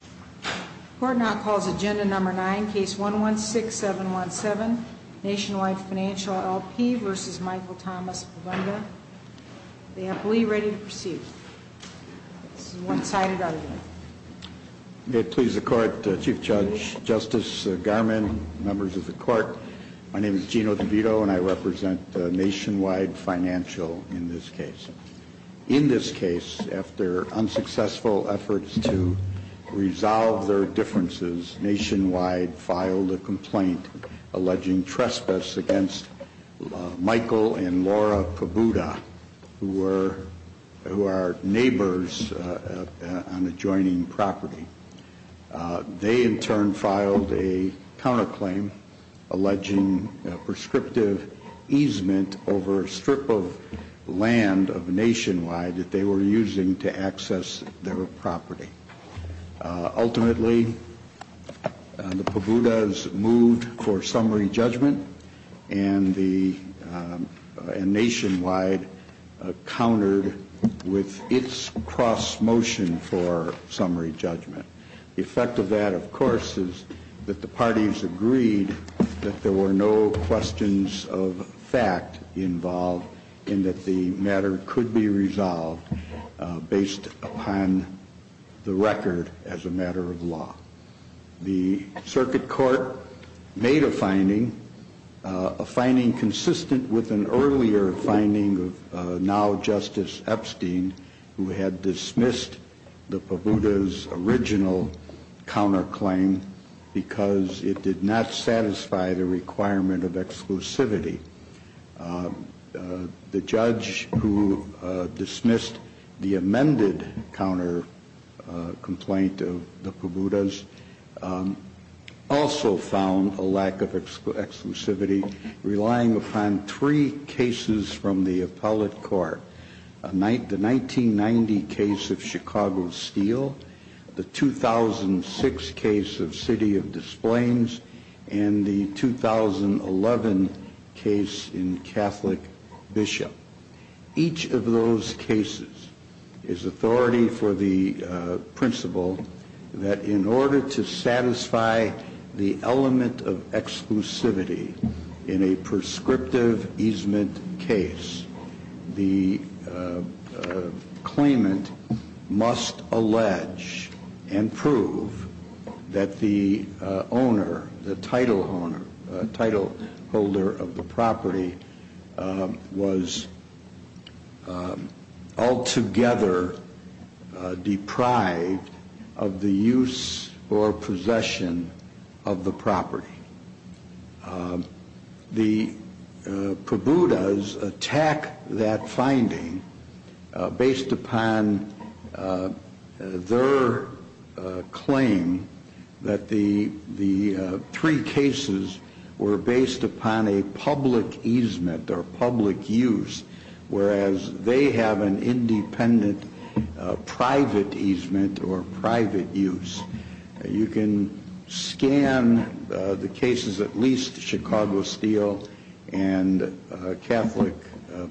The court now calls agenda number 9, case 116717, Nationwide Financial, L.P. v. Michael Thomas Pobuda. The employee ready to proceed. This is a one-sided argument. May it please the court, Chief Judge, Justice Garmon, members of the court, my name is Gino DeVito and I represent Nationwide Financial in this case. In this case, after unsuccessful efforts to resolve their differences, Nationwide filed a complaint alleging trespass against Michael and Laura Pobuda, who are neighbors on adjoining property. They, in turn, filed a counterclaim alleging prescriptive easement over a strip of land of Nationwide that they were using to access their property. Ultimately, the Pobudas moved for summary judgment and Nationwide countered with its cross-motion for summary judgment. The effect of that, of course, is that the parties agreed that there were no questions of fact involved and that the matter could be resolved based upon the record as a matter of law. The circuit court made a finding, a finding consistent with an earlier finding of now Justice Epstein, who had dismissed the Pobudas' original counterclaim because it did not satisfy the requirement of exclusivity. The judge who dismissed the amended counter complaint of the Pobudas also found a lack of exclusivity relying upon three cases from the appellate court, the 1990 case of Chicago Steel, the 2006 case of City of Des Plaines, and the 2011 case in Catholic Bishop. Each of those cases is authority for the principle that in order to satisfy the element of exclusivity in a prescriptive easement case, the claimant must allege and prove that the owner, The Pobudas attack that finding based upon their claim that the three cases were based upon a public easement or public use, whereas they have an independent private easement or private use. You can scan the cases, at least Chicago Steel and Catholic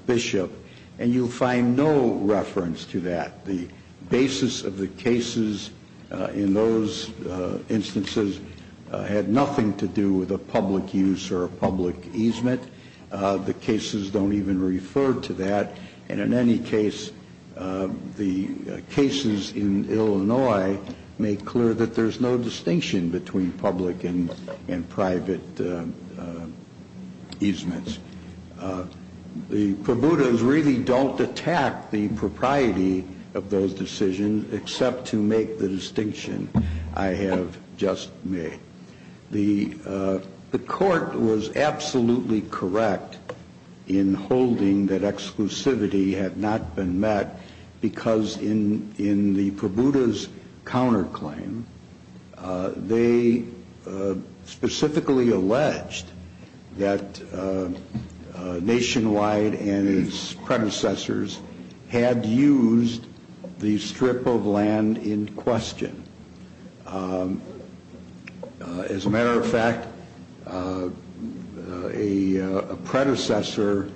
Bishop, and you find no reference to that. The basis of the cases in those instances had nothing to do with a public use or a public easement. The cases don't even refer to that. And in any case, the cases in Illinois make clear that there's no distinction between public and private easements. The Pobudas really don't attack the propriety of those decisions except to make the distinction I have just made. The court was absolutely correct in holding that exclusivity had not been met because in the Pobudas counterclaim, they specifically alleged that Nationwide and its predecessors had used the strip of land in question. As a matter of fact, a predecessor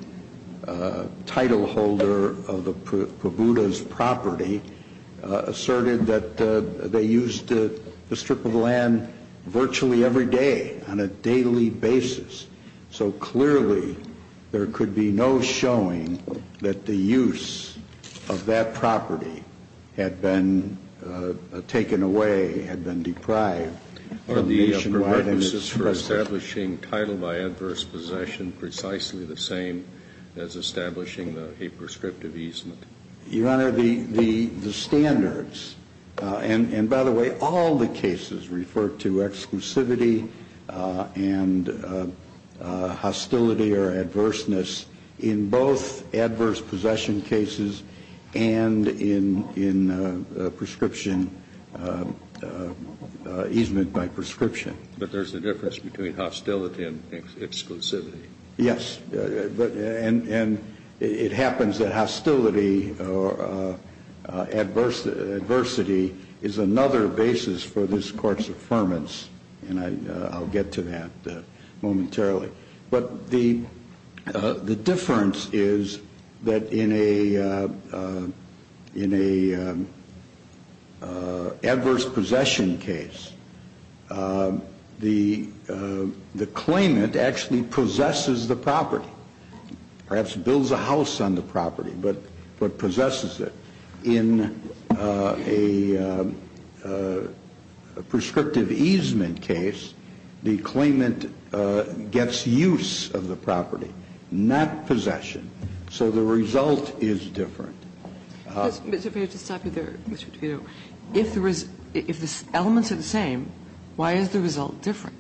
title holder of the Pobudas property asserted that they used the strip of land virtually every day on a daily basis. So clearly, there could be no showing that the use of that property had been taken away, had been deprived from Nationwide and its predecessors. Are the prerequisites for establishing title by adverse possession precisely the same as establishing a prescriptive easement? Your Honor, the standards, and by the way, all the cases refer to exclusivity and hostility or adverseness in both adverse possession cases and in prescription, easement by prescription. But there's a difference between hostility and exclusivity. Yes. And it happens that hostility or adversity is another basis for this Court's affirmance, and I'll get to that momentarily. But the difference is that in an adverse possession case, the claimant actually possesses the property, perhaps builds a house on the property, but possesses it. In a prescriptive easement case, the claimant gets use of the property, not possession. So the result is different. But if I could just stop you there, Mr. DeVito. If the elements are the same, why is the result different?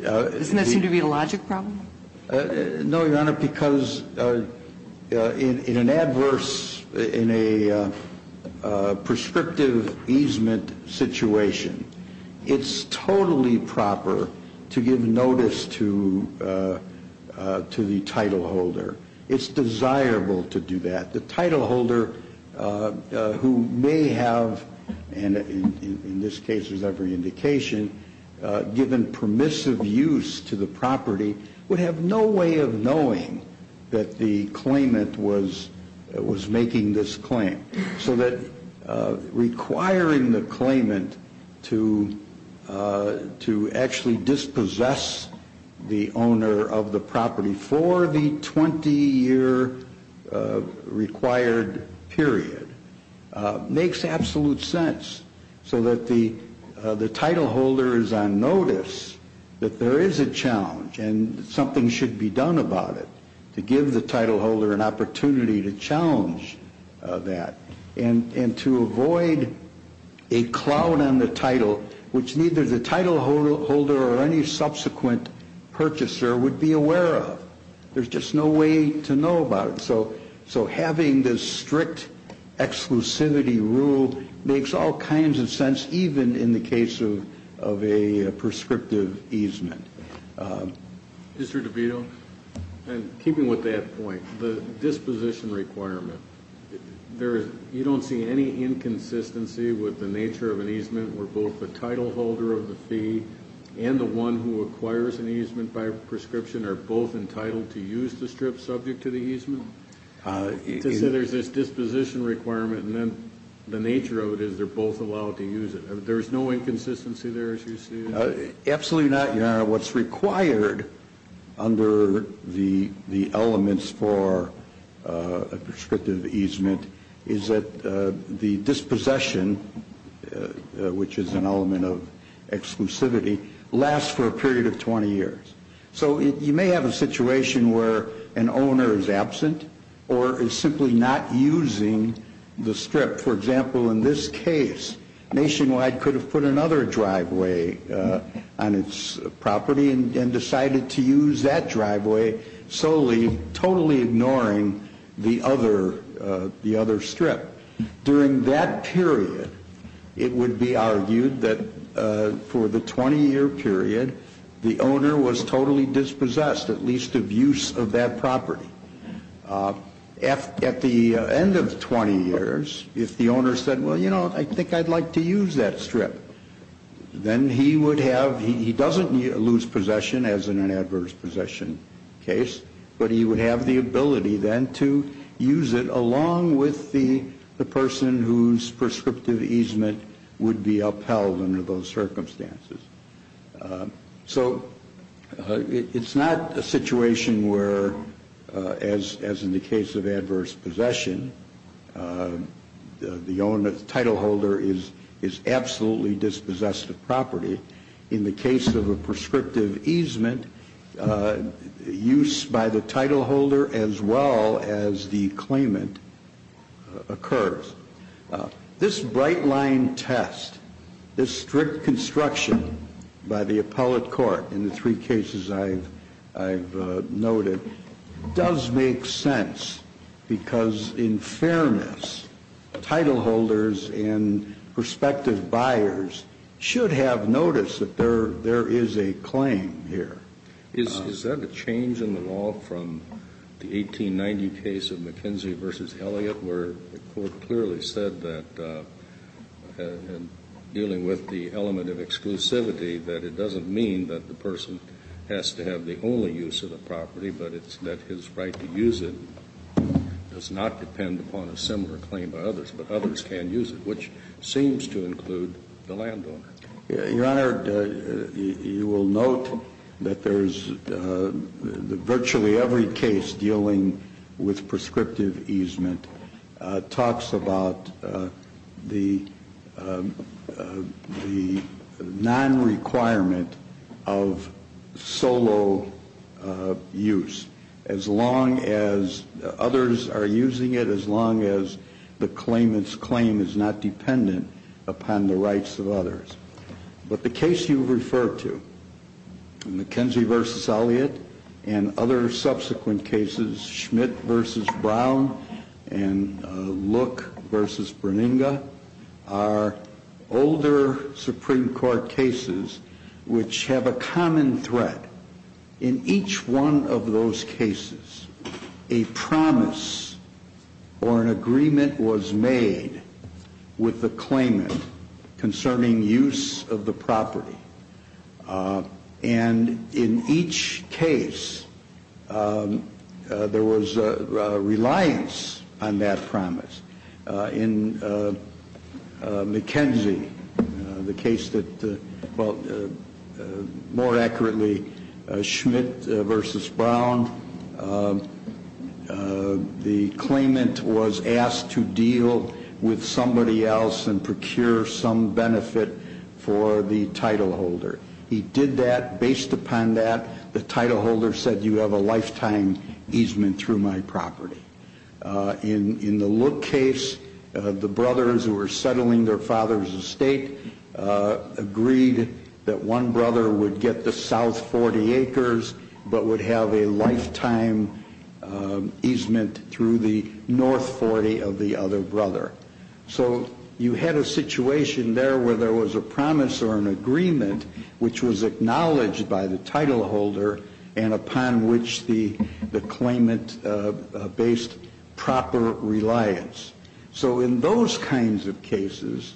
Doesn't that seem to be a logic problem? No, Your Honor, because in an adverse, in a prescriptive easement situation, it's totally proper to give notice to the title holder. It's desirable to do that. The title holder, who may have, in this case, as every indication, given permissive use to the property, would have no way of knowing that the claimant was making this claim. So that requiring the claimant to actually dispossess the owner of the property for the 20-year required period makes absolute sense. So that the title holder is on notice that there is a challenge and something should be done about it, to give the title holder an opportunity to challenge that. And to avoid a cloud on the title, which neither the title holder or any subsequent purchaser would be aware of. There's just no way to know about it. So having this strict exclusivity rule makes all kinds of sense, even in the case of a prescriptive easement. Mr. DeVito, keeping with that point, the disposition requirement, you don't see any inconsistency with the nature of an easement where both the title holder of the fee and the one who acquires an easement by prescription are both entitled to use the strip subject to the easement? To say there's this disposition requirement and then the nature of it is they're both allowed to use it. There's no inconsistency there as you see it? Absolutely not, Your Honor. What's required under the elements for a prescriptive easement is that the dispossession, which is an element of exclusivity, lasts for a period of 20 years. So you may have a situation where an owner is absent or is simply not using the strip. For example, in this case, Nationwide could have put another driveway on its property and decided to use that driveway solely totally ignoring the other strip. During that period, it would be argued that for the 20-year period, the owner was totally dispossessed, at least of use of that property. At the end of 20 years, if the owner said, well, you know, I think I'd like to use that strip, then he would have, he doesn't lose possession as in an adverse possession case, but he would have the ability then to use it along with the person whose prescriptive easement would be upheld under those circumstances. So it's not a situation where, as in the case of adverse possession, the owner, the title holder is absolutely dispossessed of property. In the case of a prescriptive easement, use by the title holder as well as the claimant occurs. This bright-line test, this strict construction by the appellate court in the three cases I've noted, does make sense because in fairness, title holders and prospective buyers should have noticed that there is a claim here. Is that a change in the law from the 1890 case of McKenzie v. Elliott where the court clearly said that in dealing with the element of exclusivity that it doesn't mean that the person has to have the only use of the property, but it's that his right to use it does not depend upon a similar claim by others, but others can use it, which seems to include the landowner? Your Honor, you will note that virtually every case dealing with prescriptive easement talks about the non-requirement of solo use as long as others are using it, as long as the claimant's claim is not dependent upon the rights of others. But the case you've referred to, McKenzie v. Elliott and other subsequent cases, Schmidt v. Brown and Look v. Berninger, are older Supreme Court cases which have a common thread. In each one of those cases, a promise or an agreement was made with the claimant concerning use of the property. And in each case, there was a reliance on that promise. In McKenzie, the case that, well, more accurately, Schmidt v. Brown, the claimant was asked to deal with somebody else and procure some benefit for the title holder. He did that. Based upon that, the title holder said you have a lifetime easement through my property. In the Look case, the brothers who were settling their father's estate agreed that one brother would get the south 40 acres but would have a lifetime easement through the north 40 of the other brother. So you had a situation there where there was a promise or an agreement which was acknowledged by the title holder and upon which the claimant based proper reliance. So in those kinds of cases,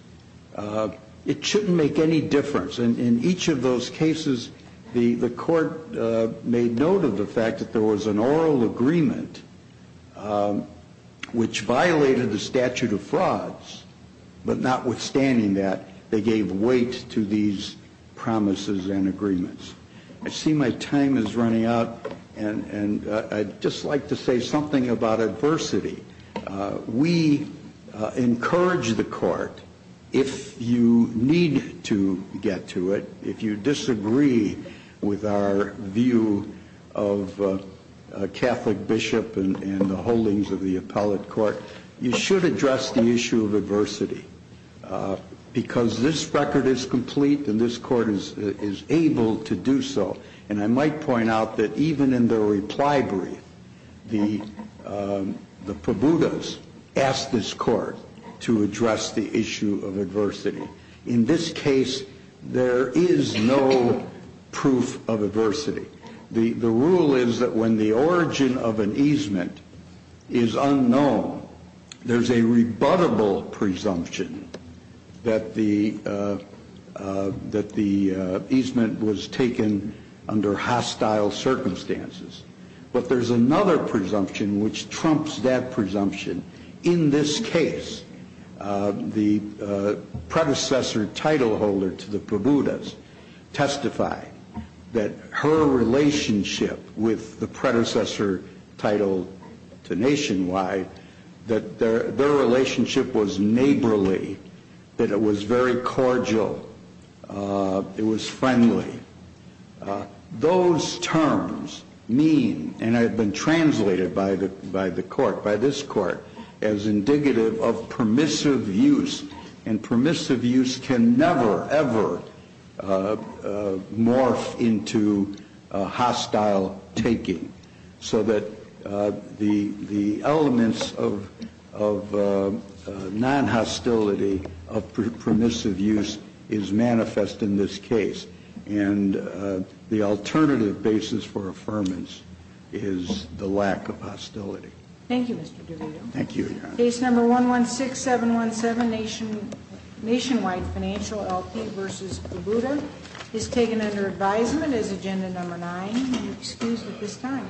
it shouldn't make any difference. In each of those cases, the court made note of the fact that there was an oral agreement which violated the statute of frauds, but notwithstanding that, they gave weight to these promises and agreements. I see my time is running out, and I'd just like to say something about adversity. We encourage the court, if you need to get to it, if you disagree with our view of a Catholic bishop and the holdings of the appellate court, you should address the issue of adversity because this record is complete, and this court is able to do so. And I might point out that even in the reply brief, the probudas asked this court to address the issue of adversity. In this case, there is no proof of adversity. The rule is that when the origin of an easement is unknown, there's a rebuttable presumption that the easement was taken under hostile circumstances. But there's another presumption which trumps that presumption. In this case, the predecessor title holder to the probudas testified that her relationship with the predecessor title to Nationwide, that their relationship was neighborly, that it was very cordial, it was friendly. Those terms mean, and have been translated by the court, by this court, as indicative of permissive use, and permissive use can never, ever morph into hostile taking, so that the elements of non-hostility of permissive use is manifest in this case. And the alternative basis for affirmance is the lack of hostility. Thank you, Mr. DeVito. Thank you, Your Honor. Case number 116717, Nationwide Financial LP v. Probuda, is taken under advisement as agenda number nine, and excused at this time.